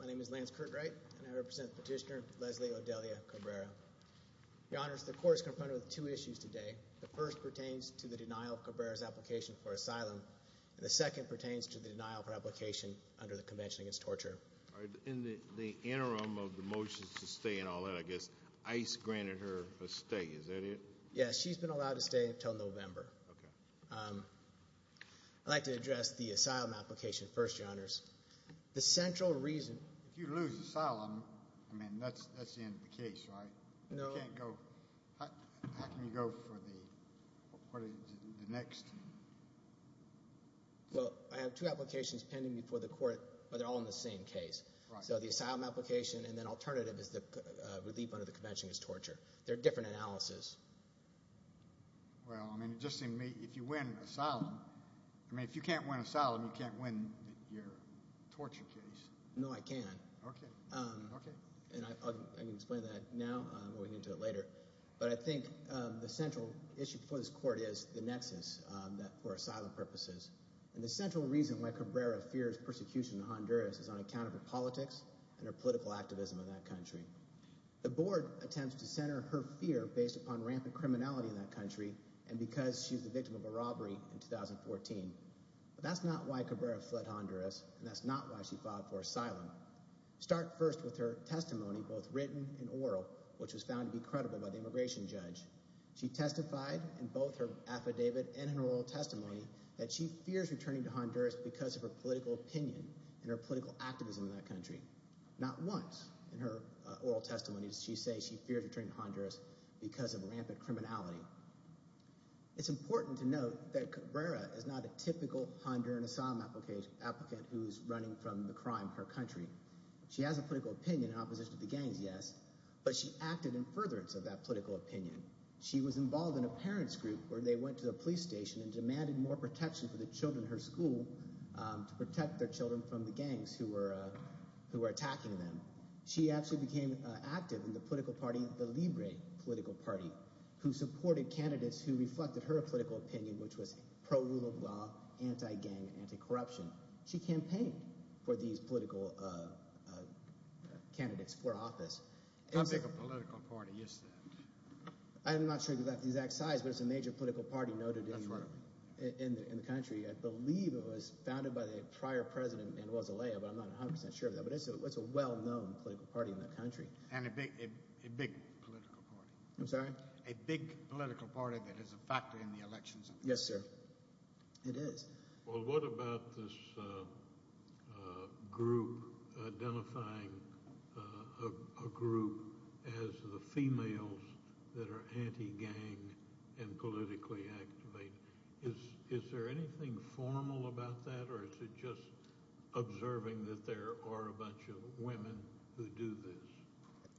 My name is Lance Curtright, and I represent Petitioner Leslie Odelia Cabrera. Your Honors, the Court is confronted with two issues today. The first pertains to the denial of Cabrera's application for asylum, and the second pertains to the denial of her application under the Convention Against Torture. In the interim of the motion to stay and all that, I guess, ICE granted her a stay. Is that it? Yes, she's been allowed to stay until November. I'd like to address the asylum application first, Your Honors. If you lose asylum, I mean, that's the end of the case, right? No. You can't go – how can you go for the next? Well, I have two applications pending before the Court, but they're all in the same case. Right. So the asylum application and then alternative is the relief under the Convention Against Torture. They're different analyses. Well, I mean, it just seemed to me if you win asylum – I mean, if you can't win asylum, you can't win your torture case. No, I can. Okay. And I can explain that now. We'll get into it later. But I think the central issue before this Court is the nexus for asylum purposes. And the central reason why Cabrera fears persecution in Honduras is on account of her politics and her political activism in that country. The board attempts to center her fear based upon rampant criminality in that country and because she's the victim of a robbery in 2014. But that's not why Cabrera fled Honduras, and that's not why she filed for asylum. Start first with her testimony, both written and oral, which was found to be credible by the immigration judge. She testified in both her affidavit and her oral testimony that she fears returning to Honduras because of her political opinion and her political activism in that country. Not once in her oral testimony does she say she fears returning to Honduras because of rampant criminality. It's important to note that Cabrera is not a typical Honduran asylum applicant who is running from the crime of her country. She has a political opinion in opposition to the gangs, yes, but she acted in furtherance of that political opinion. She was involved in a parent's group where they went to the police station and demanded more protection for the children in her school to protect their children from the gangs who were attacking them. She actually became active in the political party, the Libre political party, who supported candidates who reflected her political opinion, which was pro-rule of law, anti-gang, anti-corruption. She campaigned for these political candidates for office. How big a political party is that? I'm not sure of the exact size, but it's a major political party noted in the country. I believe it was founded by the prior president, Manuel Zelaya, but I'm not 100 percent sure of that. But it's a well-known political party in that country. And a big political party. I'm sorry? A big political party that is a factor in the elections. Yes, sir. It is. Well, what about this group identifying a group as the females that are anti-gang and politically active? Is there anything formal about that, or is it just observing that there are a bunch of women who do this?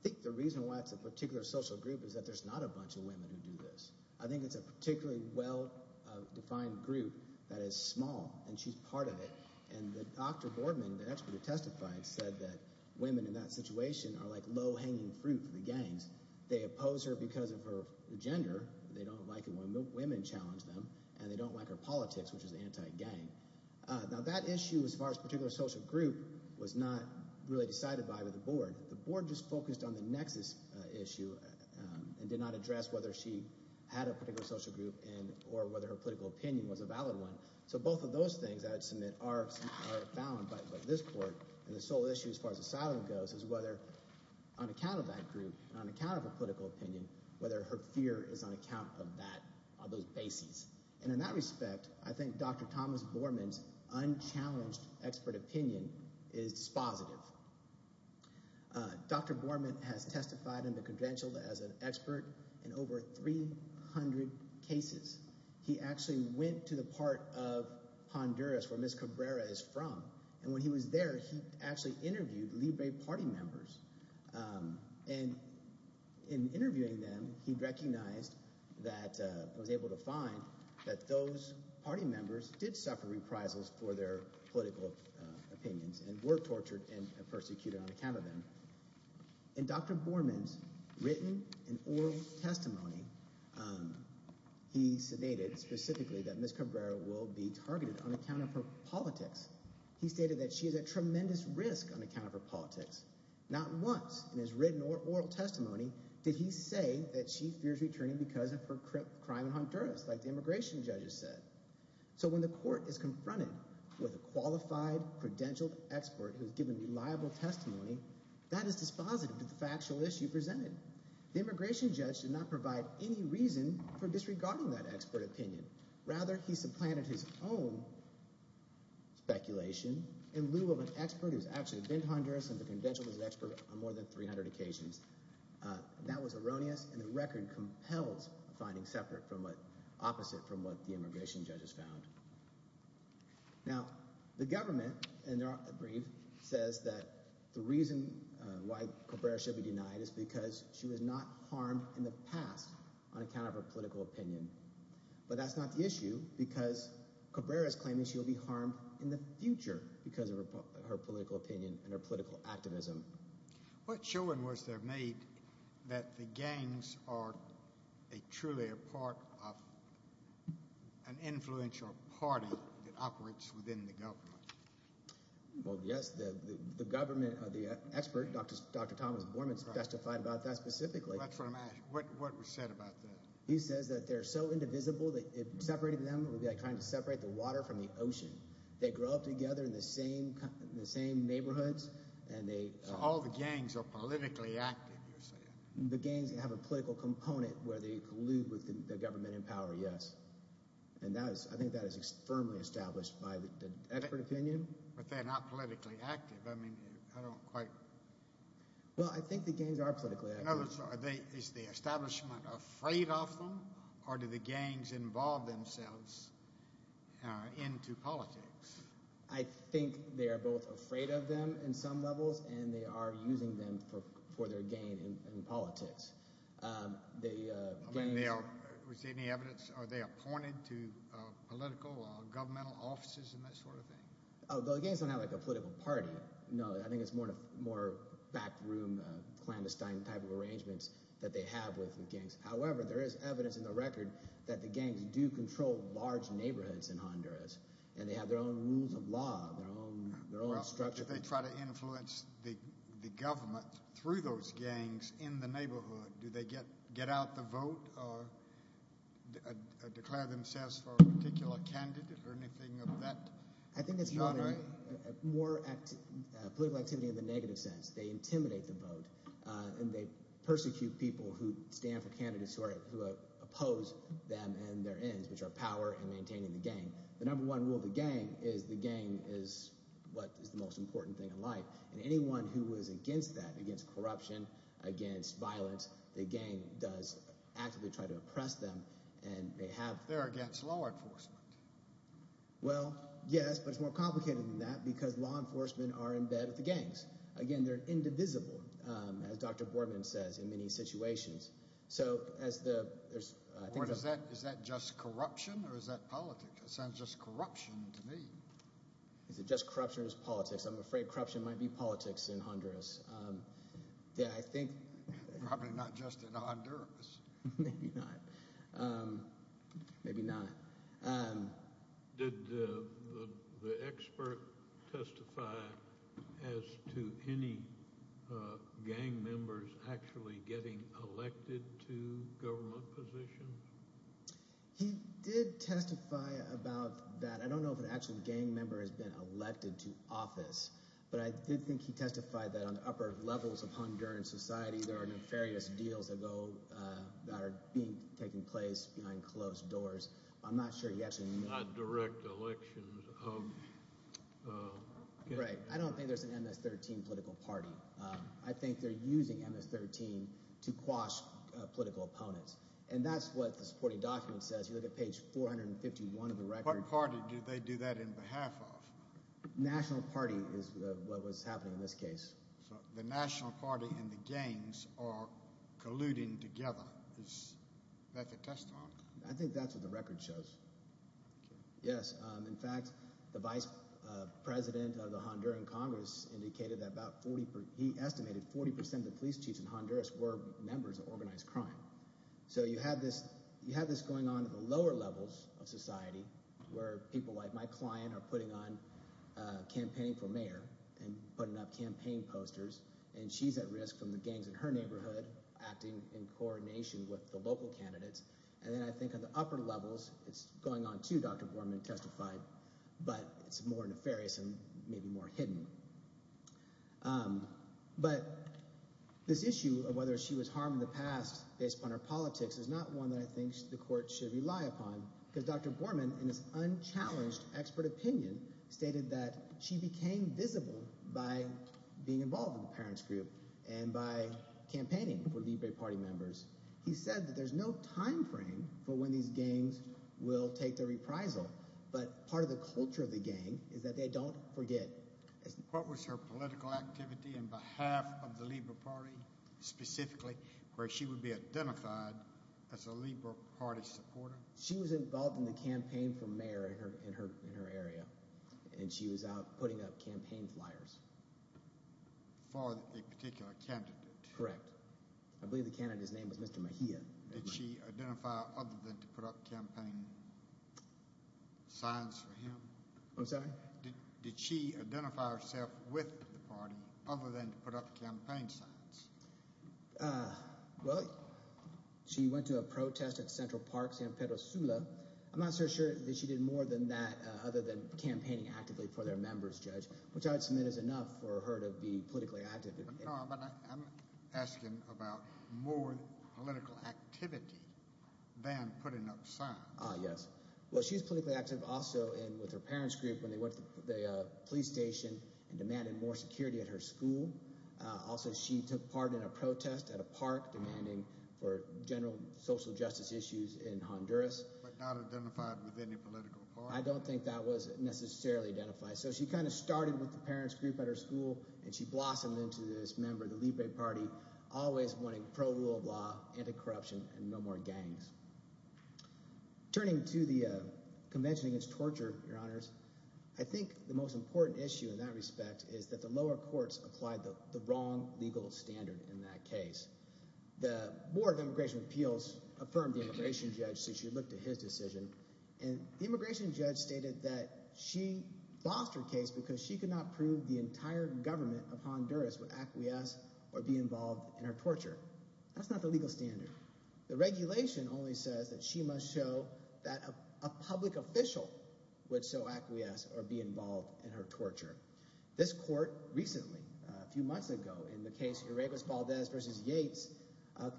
I think the reason why it's a particular social group is that there's not a bunch of women who do this. I think it's a particularly well-defined group that is small, and she's part of it. And Dr. Boardman, the expert who testified, said that women in that situation are like low-hanging fruit for the gangs. They oppose her because of her gender. They don't like it when women challenge them, and they don't like her politics, which is anti-gang. Now, that issue as far as particular social group was not really decided by the board. The board just focused on the nexus issue and did not address whether she had a particular social group or whether her political opinion was a valid one. So both of those things, I would submit, are found by this court. And the sole issue as far as asylum goes is whether, on account of that group and on account of her political opinion, whether her fear is on account of that – of those bases. And in that respect, I think Dr. Thomas Boardman's unchallenged expert opinion is dispositive. Dr. Boardman has testified in the credential as an expert in over 300 cases. He actually went to the part of Honduras where Ms. Cabrera is from, and when he was there, he actually interviewed Libre Party members. And in interviewing them, he recognized that – was able to find that those party members did suffer reprisals for their political opinions and were tortured and persecuted on account of them. In Dr. Boardman's written and oral testimony, he stated specifically that Ms. Cabrera will be targeted on account of her politics. He stated that she is at tremendous risk on account of her politics. Not once in his written or oral testimony did he say that she fears returning because of her crime in Honduras, like the immigration judges said. So when the court is confronted with a qualified credentialed expert who has given reliable testimony, that is dispositive to the factual issue presented. The immigration judge did not provide any reason for disregarding that expert opinion. Rather, he supplanted his own speculation in lieu of an expert who has actually been to Honduras and the credentialed expert on more than 300 occasions. That was erroneous, and the record compelled finding separate from what – opposite from what the immigration judges found. Now the government, in their brief, says that the reason why Cabrera should be denied is because she was not harmed in the past on account of her political opinion. But that's not the issue because Cabrera is claiming she will be harmed in the future because of her political opinion and her political activism. What showing was there made that the gangs are truly a part of an influential party that operates within the government? Well, yes, the government – the expert, Dr. Thomas Boardman, testified about that specifically. That's what I'm asking. What was said about that? He says that they're so indivisible that separating them would be like trying to separate the water from the ocean. They grow up together in the same neighborhoods and they – So all the gangs are politically active, you're saying? The gangs have a political component where they collude with the government in power, yes. And that is – I think that is firmly established by the expert opinion. But they're not politically active. I mean I don't quite – Well, I think the gangs are politically active. In other words, is the establishment afraid of them or do the gangs involve themselves into politics? I think they are both afraid of them in some levels, and they are using them for their gain in politics. I mean they are – was there any evidence – are they appointed to political or governmental offices and that sort of thing? Oh, the gangs don't have like a political party. No, I think it's more backroom clandestine type of arrangements that they have with the gangs. However, there is evidence in the record that the gangs do control large neighborhoods in Honduras, and they have their own rules of law, their own structure. Well, if they try to influence the government through those gangs in the neighborhood, do they get out the vote or declare themselves for a particular candidate or anything of that? I think it's more political activity in the negative sense. They intimidate the vote, and they persecute people who stand for candidates who oppose them and their ends, which are power and maintaining the gang. The number one rule of the gang is the gang is what is the most important thing in life. And anyone who is against that, against corruption, against violence, the gang does actively try to oppress them, and they have – They're against law enforcement. Well, yes, but it's more complicated than that because law enforcement are in bed with the gangs. Again, they're indivisible, as Dr. Boardman says, in many situations. So as the – Is that just corruption or is that politics? It sounds just corruption to me. Is it just corruption or is it politics? I'm afraid corruption might be politics in Honduras. Yeah, I think – Probably not just in Honduras. Maybe not. Maybe not. Did the expert testify as to any gang members actually getting elected to government positions? He did testify about that. I don't know if an actual gang member has been elected to office, but I did think he testified that on the upper levels of Honduran society, there are nefarious deals that are taking place behind closed doors. I'm not sure he actually – Not direct elections of gang members. Right. I don't think there's an MS-13 political party. I think they're using MS-13 to quash political opponents, and that's what the supporting document says. You look at page 451 of the record. What party do they do that in behalf of? National Party is what was happening in this case. So the National Party and the gangs are colluding together. Is that the testimony? I think that's what the record shows. Yes. In fact, the vice president of the Honduran Congress indicated that about – he estimated 40 percent of the police chiefs in Honduras were members of organized crime. So you have this going on at the lower levels of society where people like my client are putting on campaign for mayor and putting up campaign posters, and she's at risk from the gangs in her neighborhood acting in coordination with the local candidates. And then I think at the upper levels, it's going on too, Dr. Borman testified, but it's more nefarious and maybe more hidden. But this issue of whether she was harmed in the past based upon her politics is not one that I think the court should rely upon because Dr. Borman, in his unchallenged expert opinion, stated that she became visible by being involved in the parents group and by campaigning for Libre Party members. He said that there's no timeframe for when these gangs will take their reprisal, but part of the culture of the gang is that they don't forget. What was her political activity in behalf of the Libre Party specifically where she would be identified as a Libre Party supporter? She was involved in the campaign for mayor in her area, and she was out putting up campaign flyers. For a particular candidate? Correct. I believe the candidate's name was Mr. Mejia. Did she identify other than to put up campaign signs for him? I'm sorry? Did she identify herself with the party other than to put up campaign signs? Well, she went to a protest at Central Park, San Pedro Sula. I'm not so sure that she did more than that other than campaigning actively for their members, Judge, which I would submit is enough for her to be politically active. But I'm asking about more political activity than putting up signs. Yes. Well, she was politically active also with her parents group when they went to the police station and demanded more security at her school. Also, she took part in a protest at a park demanding for general social justice issues in Honduras. But not identified with any political party? I don't think that was necessarily identified. So she kind of started with the parents group at her school, and she blossomed into this member of the Libre Party, always wanting pro-rule of law, anti-corruption, and no more gangs. Turning to the Convention Against Torture, Your Honors, I think the most important issue in that respect is that the lower courts applied the wrong legal standard in that case. The Board of Immigration Appeals affirmed the immigration judge since she looked at his decision, and the immigration judge stated that she bossed her case because she could not prove the entire government of Honduras would acquiesce or be involved in her torture. That's not the legal standard. The regulation only says that she must show that a public official would so acquiesce or be involved in her torture. This court recently, a few months ago, in the case of Uruguas Valdez v. Yates,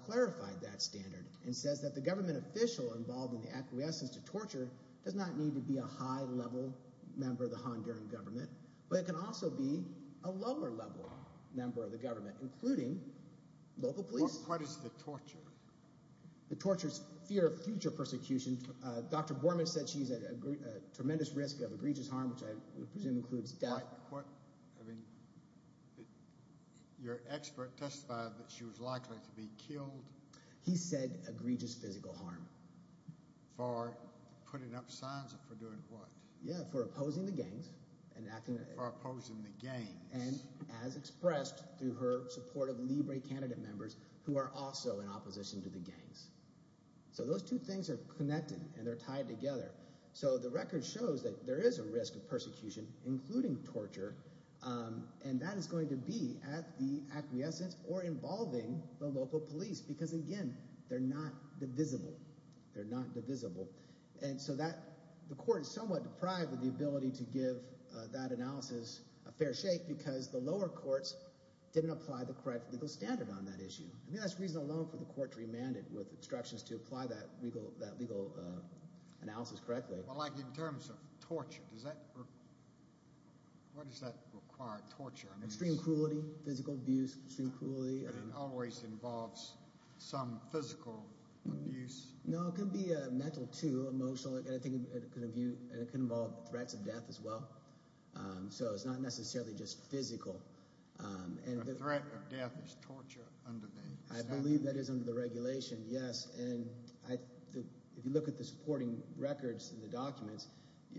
clarified that standard and says that the government official involved in the acquiescence to torture does not need to be a high-level member of the Honduran government, but it can also be a lower-level member of the government, including local police. What is the torture? The torture is fear of future persecution. Dr. Borman said she's at a tremendous risk of egregious harm, which I presume includes death. Your expert testified that she was likely to be killed. He said egregious physical harm. For putting up signs for doing what? Yeah, for opposing the gangs. For opposing the gangs. And as expressed through her support of Libre candidate members who are also in opposition to the gangs. So those two things are connected and they're tied together. So the record shows that there is a risk of persecution, including torture, and that is going to be at the acquiescence or involving the local police because, again, they're not divisible. They're not divisible. And so that – the court is somewhat deprived of the ability to give that analysis a fair shake because the lower courts didn't apply the correct legal standard on that issue. I mean that's reason alone for the court to remand it with instructions to apply that legal analysis correctly. Well, like in terms of torture, does that – what does that require, torture? Extreme cruelty, physical abuse, extreme cruelty. And it always involves some physical abuse? No, it can be mental too, emotional. And I think it can involve threats of death as well. So it's not necessarily just physical. A threat of death is torture under the statute? I believe that is under the regulation, yes. And if you look at the supporting records in the documents,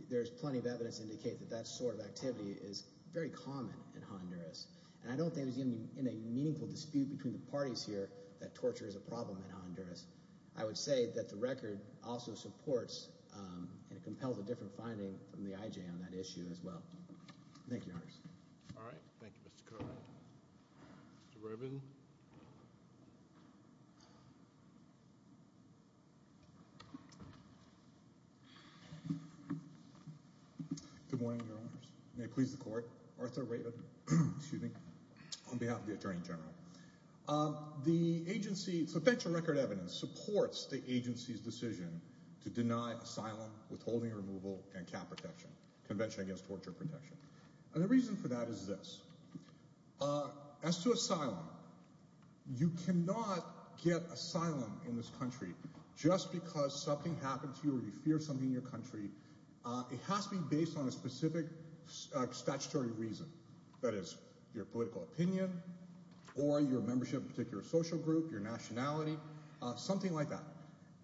there's plenty of evidence to indicate that that sort of activity is very common in Honduras. And I don't think there's even a meaningful dispute between the parties here that torture is a problem in Honduras. I would say that the record also supports and compels a different finding from the IJ on that issue as well. Thank you, Your Honors. All right. Thank you, Mr. Cohen. Mr. Rubin. Good morning, Your Honors. May it please the court. Arthur Rubin on behalf of the attorney general. The agency, substantial record evidence supports the agency's decision to deny asylum, withholding removal, and CAP protection, Convention Against Torture Protection. And the reason for that is this. As to asylum, you cannot get asylum in this country just because something happened to you or you fear something in your country. It has to be based on a specific statutory reason, that is, your political opinion or your membership in a particular social group, your nationality, something like that.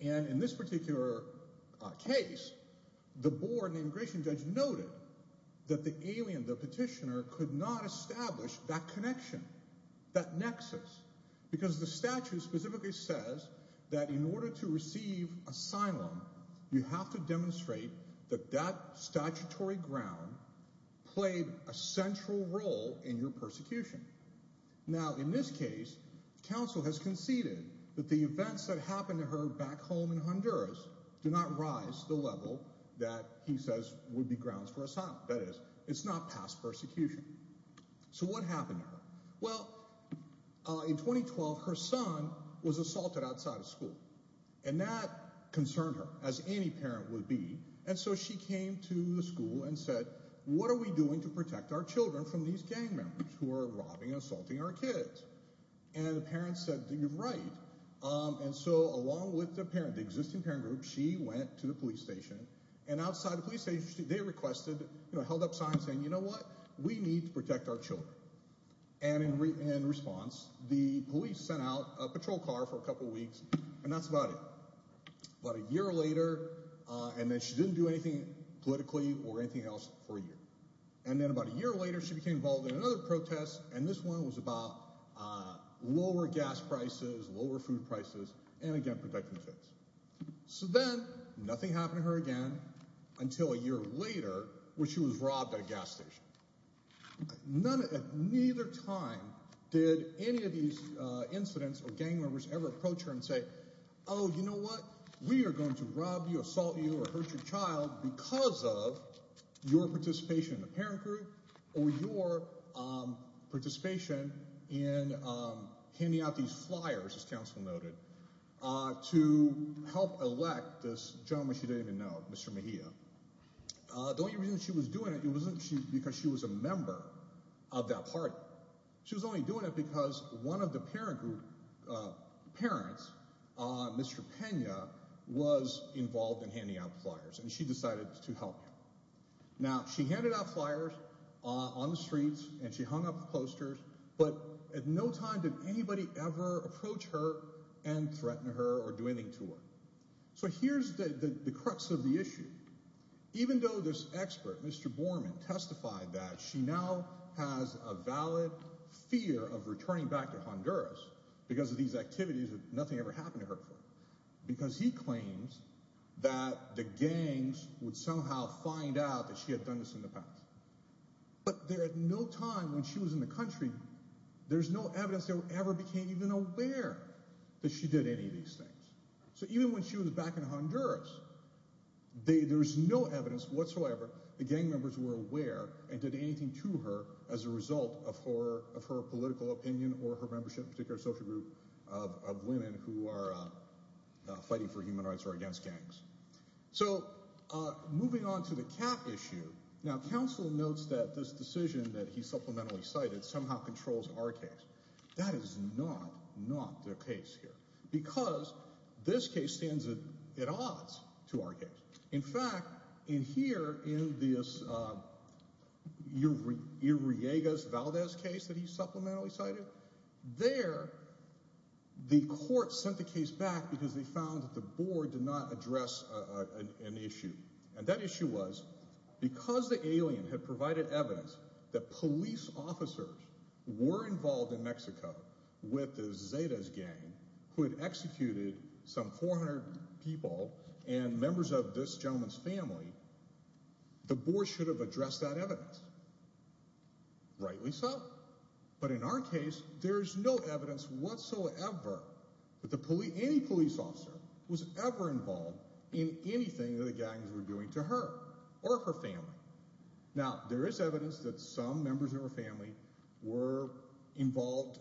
And in this particular case, the board and immigration judge noted that the alien, the petitioner, could not establish that connection, that nexus, because the statute specifically says that in order to receive asylum, you have to demonstrate that that statutory ground played a central role in your persecution. Now, in this case, counsel has conceded that the events that happened to her back home in Honduras did not rise to the level that he says would be grounds for asylum. That is, it's not past persecution. So what happened to her? Well, in 2012, her son was assaulted outside of school, and that concerned her, as any parent would be. And so she came to the school and said, what are we doing to protect our children from these gang members who are robbing and assaulting our kids? And the parents said, you're right. And so along with the parent, the existing parent group, she went to the police station, and outside the police station, they requested, held up signs saying, you know what? We need to protect our children. And in response, the police sent out a patrol car for a couple of weeks, and that's about it. About a year later, and then she didn't do anything politically or anything else for a year. And then about a year later, she became involved in another protest, and this one was about lower gas prices, lower food prices, and again, protecting kids. So then nothing happened to her again until a year later, when she was robbed at a gas station. Neither time did any of these incidents or gang members ever approach her and say, oh, you know what? We are going to rob you, assault you, or hurt your child because of your participation in the parent group or your participation in handing out these flyers, as counsel noted, to help elect this gentleman she didn't even know, Mr. Mejia. The only reason she was doing it, it wasn't because she was a member of that party. She was only doing it because one of the parent group parents, Mr. Pena, was involved in handing out flyers, and she decided to help him. Now, she handed out flyers on the streets, and she hung up posters, but at no time did anybody ever approach her and threaten her or do anything to her. So here's the crux of the issue. Even though this expert, Mr. Borman, testified that she now has a valid fear of returning back to Honduras because of these activities that nothing ever happened to her before, because he claims that the gangs would somehow find out that she had done this in the past, but there at no time when she was in the country, there's no evidence they ever became even aware that she did any of these things. So even when she was back in Honduras, there's no evidence whatsoever the gang members were aware and did anything to her as a result of her political opinion or her membership in a particular social group of women who are fighting for human rights or against gangs. So, moving on to the cap issue, now counsel notes that this decision that he supplementally cited somehow controls our case. That is not, not the case here because this case stands at odds to our case. In fact, in here, in this Uriegas-Valdez case that he supplementally cited, there the court sent the case back because they found that the board did not address an issue, and that issue was because the alien had provided evidence that police officers were involved in Mexico with the Zetas gang who had executed some 400 people and members of this gentleman's family, the board should have addressed that evidence. Rightly so, but in our case, there's no evidence whatsoever that any police officer was ever involved in anything that the gangs were doing to her or her family. Now, there is evidence that some members of her family were involved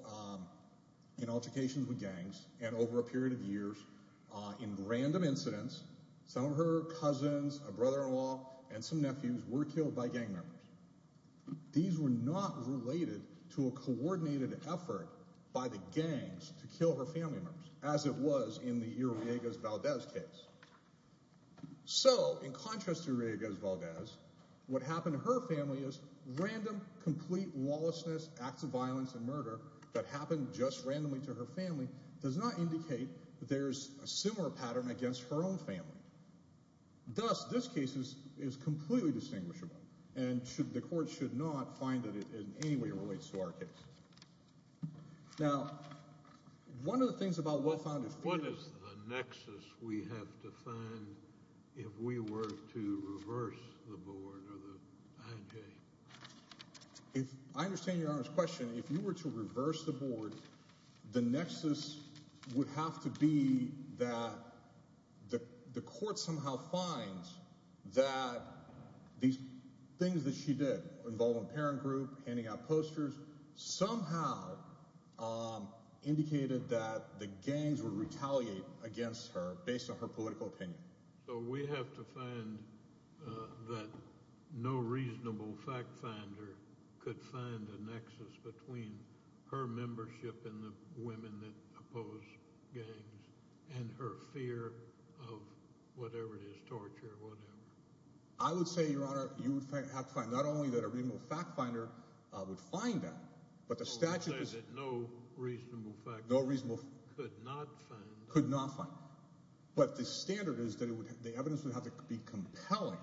in altercations with gangs and over a period of years, in random incidents, some of her cousins, a brother-in-law, and some nephews were killed by gang members. These were not related to a coordinated effort by the gangs to kill her family members as it was in the Uriegas-Valdez case. So, in contrast to Uriegas-Valdez, what happened to her family is random, complete lawlessness, acts of violence and murder that happened just randomly to her family does not indicate that there's a similar pattern against her own family. Thus, this case is completely distinguishable, and the court should not find that it in any way relates to our case. Now, one of the things about well-founded theories— What is the nexus we have to find if we were to reverse the board or the IJ? I understand Your Honor's question. If you were to reverse the board, the nexus would have to be that the court somehow finds that these things that she did— involving parent group, handing out posters—somehow indicated that the gangs would retaliate against her based on her political opinion. So we have to find that no reasonable fact finder could find a nexus between her membership in the women that oppose gangs and her fear of whatever it is, torture or whatever. I would say, Your Honor, you would have to find not only that a reasonable fact finder would find that, but the statute— No reasonable fact finder could not find that. But the standard is that the evidence would have to be compelling.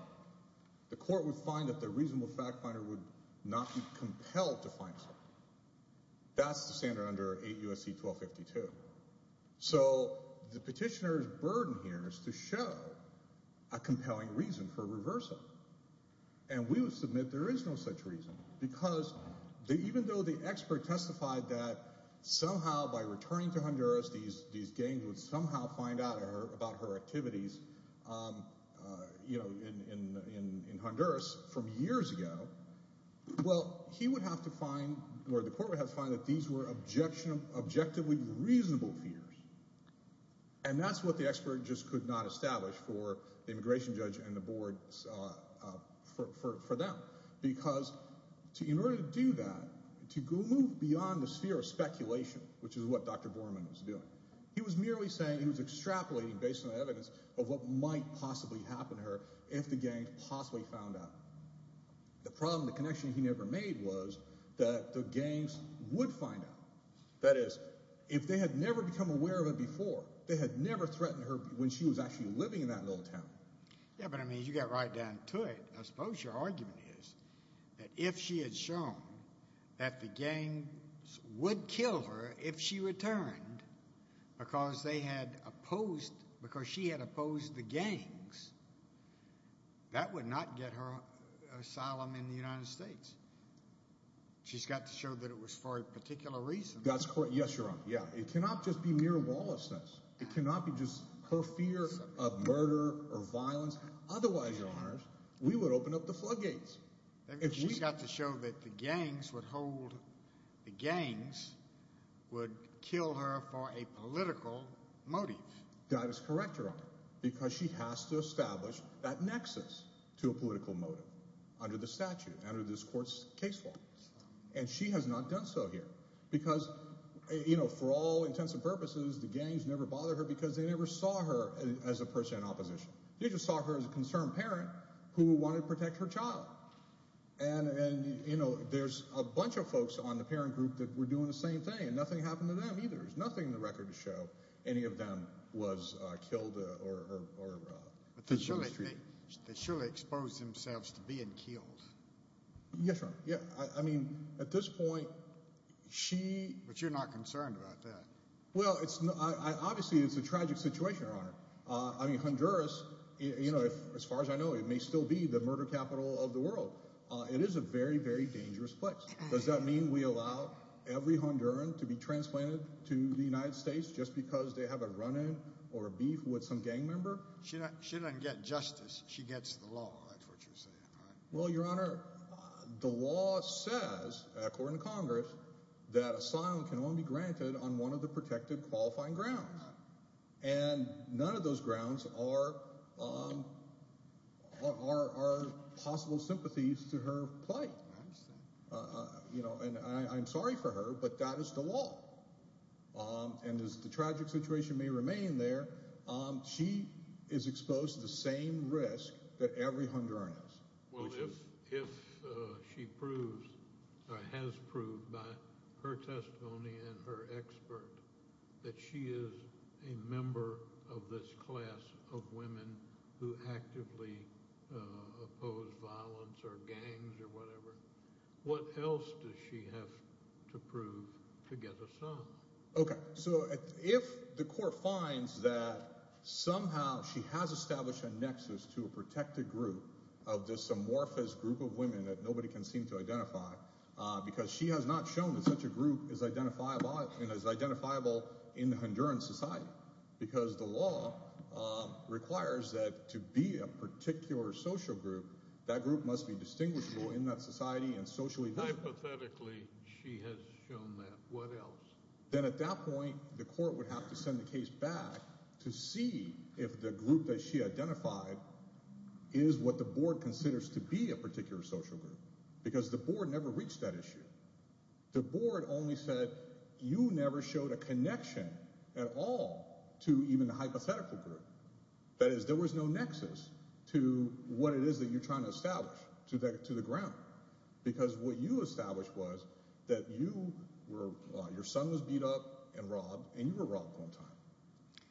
The court would find that the reasonable fact finder would not be compelled to find something. That's the standard under 8 U.S.C. 1252. So the petitioner's burden here is to show a compelling reason for reversing. And we would submit there is no such reason because even though the expert testified that somehow by returning to Honduras, these gangs would somehow find out about her activities in Honduras from years ago, well, he would have to find—or the court would have to find that these were objectively reasonable fears. And that's what the expert just could not establish for the immigration judge and the board for them. Because in order to do that, to move beyond the sphere of speculation, which is what Dr. Borman was doing, he was merely saying he was extrapolating based on evidence of what might possibly happen to her if the gangs possibly found out. The problem, the connection he never made was that the gangs would find out. That is, if they had never become aware of it before, they had never threatened her when she was actually living in that little town. Yeah, but, I mean, you got right down to it. I suppose your argument is that if she had shown that the gangs would kill her if she returned because they had opposed—because she had opposed the gangs, that would not get her asylum in the United States. She's got to show that it was for a particular reason. That's correct. Yes, Your Honor. Yeah, it cannot just be mere lawlessness. It cannot be just her fear of murder or violence. Otherwise, Your Honor, we would open up the floodgates. She's got to show that the gangs would hold—the gangs would kill her for a political motive. That is correct, Your Honor, because she has to establish that nexus to a political motive under the statute, under this court's case law. And she has not done so here because, you know, for all intents and purposes, the gangs never bothered her because they never saw her as a person in opposition. They just saw her as a concerned parent who wanted to protect her child. And, you know, there's a bunch of folks on the parent group that were doing the same thing, and nothing happened to them either. There's nothing in the record to show any of them was killed or— But they surely exposed themselves to being killed. Yes, Your Honor. Yeah. I mean, at this point, she— But you're not concerned about that. Well, it's—obviously, it's a tragic situation, Your Honor. I mean, Honduras, you know, as far as I know, it may still be the murder capital of the world. It is a very, very dangerous place. Does that mean we allow every Honduran to be transplanted to the United States just because they have a run-in or a beef with some gang member? She doesn't get justice. She gets the law. That's what you're saying, right? Well, Your Honor, the law says, according to Congress, that asylum can only be granted on one of the protected qualifying grounds. And none of those grounds are possible sympathies to her plight. You know, and I'm sorry for her, but that is the law. And as the tragic situation may remain there, she is exposed to the same risk that every Honduran is. Well, if she proves or has proved by her testimony and her expert that she is a member of this class of women who actively oppose violence or gangs or whatever, what else does she have to prove to get asylum? Okay, so if the court finds that somehow she has established a nexus to a protected group of this amorphous group of women that nobody can seem to identify because she has not shown that such a group is identifiable in the Honduran society because the law requires that to be a particular social group, that group must be distinguishable in that society and socially. Hypothetically, she has shown that. What else? Then at that point, the court would have to send the case back to see if the group that she identified is what the board considers to be a particular social group, because the board never reached that issue. The board only said you never showed a connection at all to even the hypothetical group. That is, there was no nexus to what it is that you're trying to establish to the ground because what you established was that you were – your son was beat up and robbed and you were robbed one time.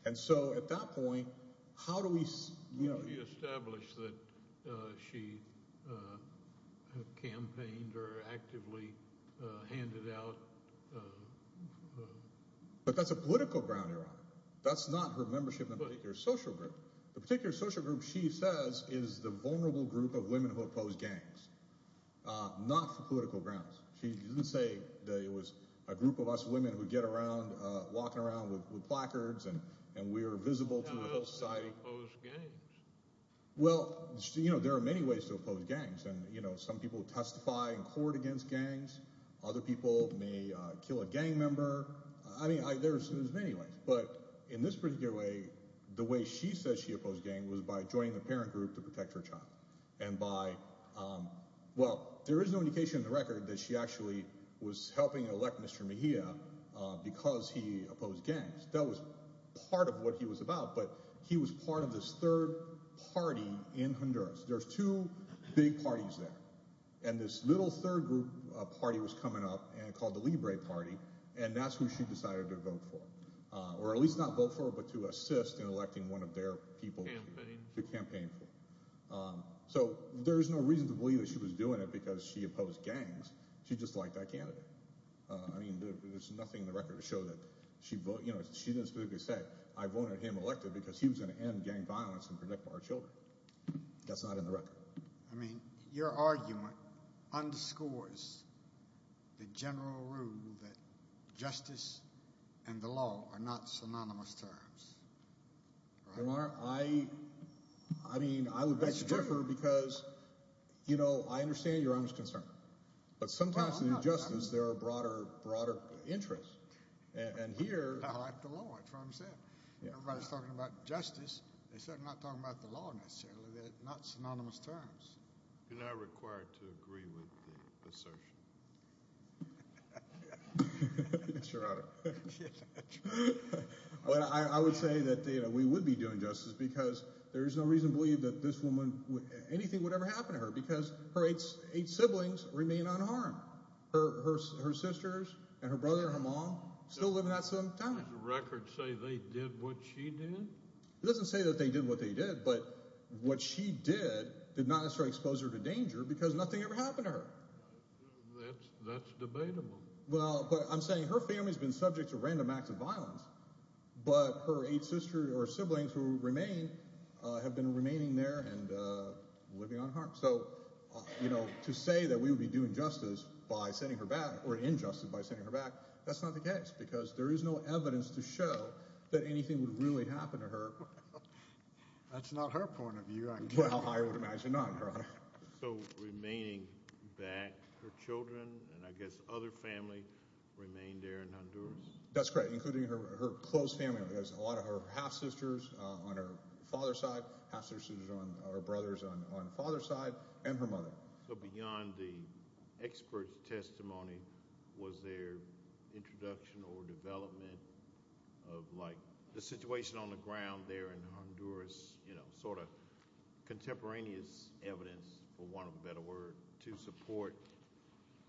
And so at that point, how do we – How do we establish that she campaigned or actively handed out – But that's a political ground you're on. That's not her membership in a particular social group. The particular social group she says is the vulnerable group of women who oppose gangs, not for political grounds. She didn't say that it was a group of us women who get around walking around with placards and we're visible to the whole society. How else can you oppose gangs? Well, there are many ways to oppose gangs, and some people testify in court against gangs. Other people may kill a gang member. I mean, there's many ways, but in this particular way, the way she says she opposed gangs was by joining the parent group to protect her child and by – well, there is no indication in the record that she actually was helping elect Mr. Mejia because he opposed gangs. That was part of what he was about, but he was part of this third party in Honduras. There's two big parties there, and this little third group party was coming up called the Libre Party, and that's who she decided to vote for, or at least not vote for but to assist in electing one of their people to campaign for. So there's no reason to believe that she was doing it because she opposed gangs. She just liked that candidate. I mean, there's nothing in the record to show that she voted – you know, she didn't specifically say, I voted him elected because he was going to end gang violence and protect our children. That's not in the record. I mean, your argument underscores the general rule that justice and the law are not synonymous terms. Your Honor, I – I mean, I would better differ because, you know, I understand your honest concern, but sometimes in justice there are broader interests, and here – I like the law. That's what I'm saying. Everybody's talking about justice. They're certainly not talking about the law necessarily. They're not synonymous terms. You're not required to agree with the assertion. Yes, Your Honor. But I would say that, you know, we would be doing justice because there is no reason to believe that this woman – her sisters and her brother and her mom still live in that same town. Does the record say they did what she did? It doesn't say that they did what they did, but what she did did not necessarily expose her to danger because nothing ever happened to her. That's debatable. Well, but I'm saying her family's been subject to random acts of violence, but her eight sisters or siblings who remain have been remaining there and living unharmed. So, you know, to say that we would be doing justice by sending her back or injustice by sending her back, that's not the case because there is no evidence to show that anything would really happen to her. Well, that's not her point of view, I guess. Well, I would imagine not, Your Honor. So remaining back, her children and I guess other family remain there in Honduras? That's correct, including her close family. There's a lot of her half-sisters on her father's side, half-sisters or brothers on her father's side, and her mother. So beyond the expert's testimony, was there introduction or development of, like, the situation on the ground there in Honduras, you know, sort of contemporaneous evidence, for want of a better word, to support,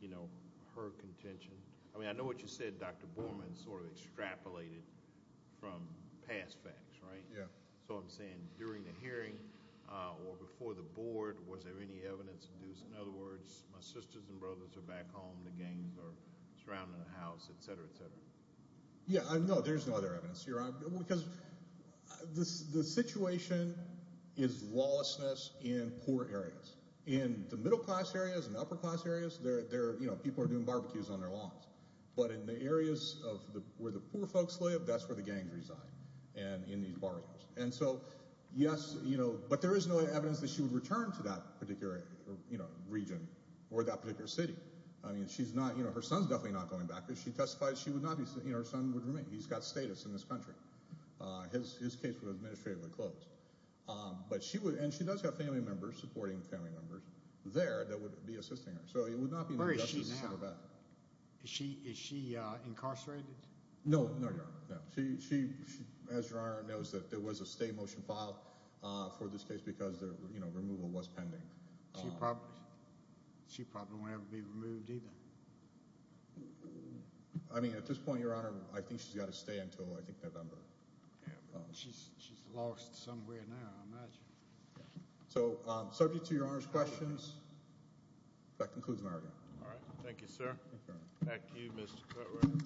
you know, her contention? I mean, I know what you said, Dr. Borman, sort of extrapolated from past facts, right? Yeah. So I'm saying during the hearing or before the board, was there any evidence? In other words, my sisters and brothers are back home, the gangs are surrounding the house, et cetera, et cetera. Yeah, no, there's no other evidence, Your Honor, because the situation is lawlessness in poor areas. In the middle-class areas and upper-class areas, you know, people are doing barbecues on their lawns. But in the areas where the poor folks live, that's where the gangs reside in these boroughs. And so, yes, you know, but there is no evidence that she would return to that particular region or that particular city. I mean, she's not, you know, her son's definitely not going back. She testified she would not be, you know, her son would remain. He's got status in this country. His case was administratively closed. But she would, and she does have family members, supporting family members, there that would be assisting her. So it would not be an injustice. Where is she now? Is she incarcerated? No, Your Honor, no. She, as Your Honor knows, there was a stay motion filed for this case because, you know, removal was pending. She probably won't ever be removed either. I mean, at this point, Your Honor, I think she's got to stay until, I think, November. She's lost somewhere now, I imagine. So subject to Your Honor's questions, that concludes my argument. All right. Thank you, sir. Thank you, Mr. Cutler.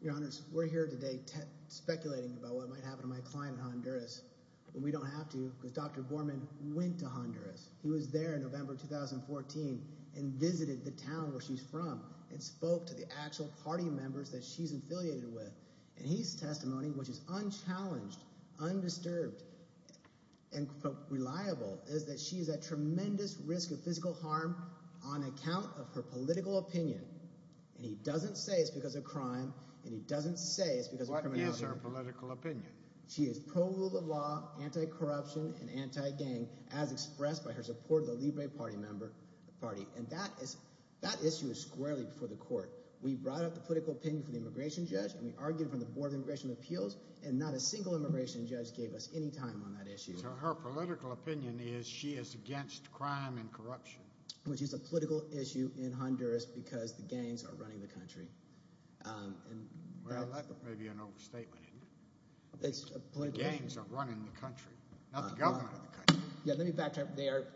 Your Honors, we're here today speculating about what might happen to my client in Honduras. But we don't have to because Dr. Gorman went to Honduras. He was there in November 2014 and visited the town where she's from and spoke to the actual party members that she's affiliated with. And his testimony, which is unchallenged, undisturbed, and reliable, is that she is at tremendous risk of physical harm on account of her political opinion. And he doesn't say it's because of crime, and he doesn't say it's because of criminality. What is her political opinion? She is pro rule of law, anti-corruption, and anti-gang, as expressed by her support of the Libre Party. And that issue is squarely before the court. We brought up the political opinion from the immigration judge, and we argued it from the Board of Immigration Appeals, and not a single immigration judge gave us any time on that issue. So her political opinion is she is against crime and corruption. Which is a political issue in Honduras because the gangs are running the country. Well, that may be an overstatement, isn't it? It's a political issue. The gangs are running the country, not the government of the country. Let me backtrack. They're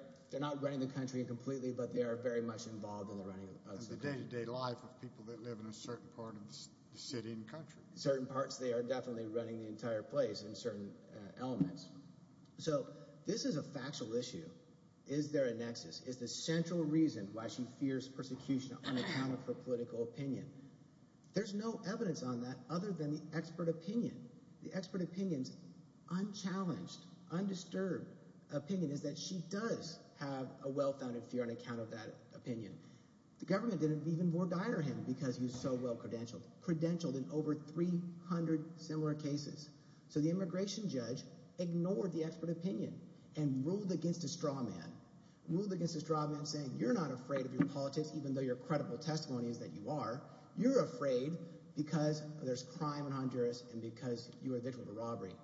not running the country completely, but they are very much involved in the running of the country. And the day-to-day life of people that live in a certain part of the city and country. Certain parts they are definitely running the entire place in certain elements. So this is a factual issue. Is there a nexus? Is the central reason why she fears persecution on account of her political opinion? There's no evidence on that other than the expert opinion. The expert opinion's unchallenged, undisturbed opinion is that she does have a well-founded fear on account of that opinion. The government did it even more direly because he was so well credentialed. Credentialed in over 300 similar cases. So the immigration judge ignored the expert opinion and ruled against a straw man. Ruled against a straw man saying you're not afraid of your politics even though your credible testimony is that you are. You're afraid because there's crime in Honduras and because you're a victim of a robbery.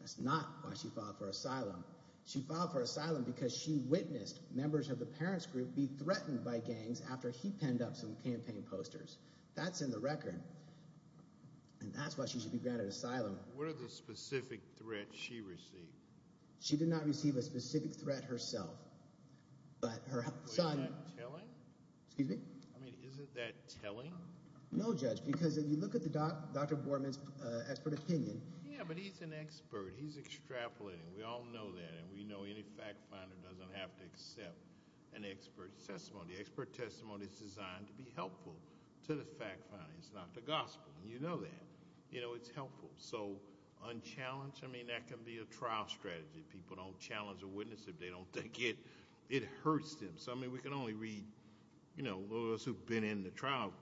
That's not why she filed for asylum. She filed for asylum because she witnessed members of the parents' group be threatened by gangs after he penned up some campaign posters. That's in the record. And that's why she should be granted asylum. What are the specific threats she received? She did not receive a specific threat herself, but her son— Is that telling? Excuse me? I mean, is that telling? No, Judge, because if you look at Dr. Borman's expert opinion— Yeah, but he's an expert. He's extrapolating. We all know that, and we know any fact finder doesn't have to accept an expert testimony. Expert testimony is designed to be helpful to the fact finder. It's not the gospel. You know that. It's helpful. So unchallenged? I mean, that can be a trial strategy. People don't challenge a witness if they don't think it hurts them. So, I mean, we can only read— Those of us who've been in the trial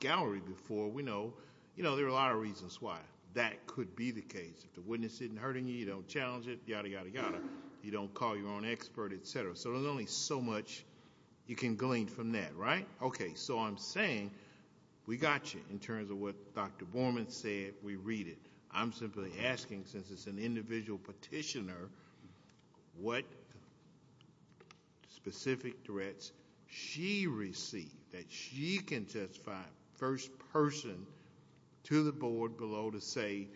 gallery before, we know there are a lot of reasons why that could be the case. If the witness isn't hurting you, you don't challenge it, yada, yada, yada. You don't call your own expert, et cetera. So there's only so much you can glean from that, right? Okay, so I'm saying we got you in terms of what Dr. Borman said. We read it. I'm simply asking, since it's an individual petitioner, what specific threats she received that she can testify first person to the board below to say,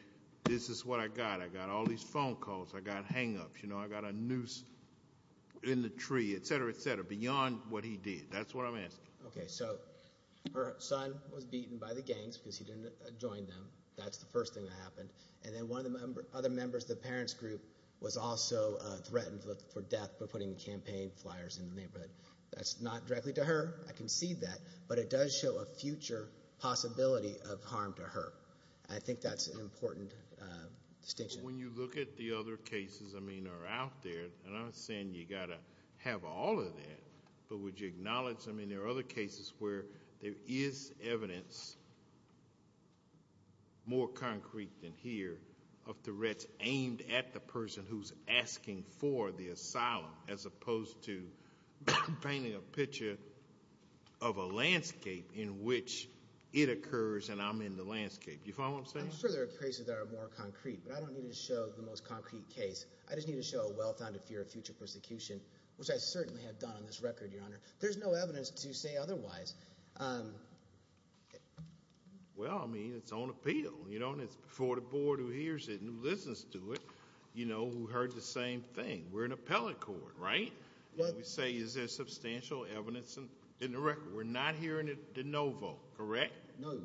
this is what I got. I got all these phone calls. I got hang-ups. I got a noose in the tree, et cetera, et cetera, beyond what he did. That's what I'm asking. Okay, so her son was beaten by the gangs because he didn't join them. That's the first thing that happened. And then one of the other members of the parents' group was also threatened for death for putting campaign flyers in the neighborhood. That's not directly to her. I concede that. But it does show a future possibility of harm to her. I think that's an important distinction. When you look at the other cases, I mean, that are out there, and I'm not saying you've got to have all of that, but would you acknowledge, I mean, there are other cases where there is evidence, more concrete than here, of threats aimed at the person who's asking for the asylum, as opposed to painting a picture of a landscape in which it occurs and I'm in the landscape. You follow what I'm saying? I'm sure there are cases that are more concrete, but I don't need to show the most concrete case. I just need to show a well-founded fear of future persecution, which I certainly have done on this record, Your Honor. There's no evidence to say otherwise. Well, I mean, it's on appeal. It's before the board who hears it and listens to it who heard the same thing. We're an appellate court, right? We say is there substantial evidence in the record. We're not hearing it de novo, correct? No.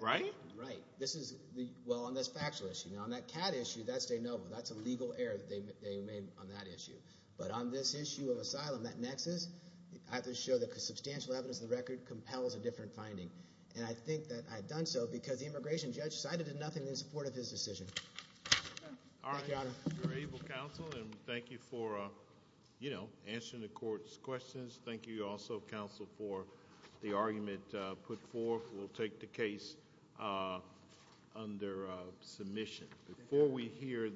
Right? Right. Well, on this factual issue. Now, on that CAD issue, that's de novo. That's a legal error that they made on that issue. But on this issue of asylum, that nexus, I have to show that substantial evidence in the record compels a different finding, and I think that I've done so because the immigration judge decided to do nothing in support of his decision. All right. Thank you, Your Honor. You're able, counsel, and thank you for answering the court's questions. Thank you also, counsel, for the argument put forth. We'll take the case under submission. Before we hear the-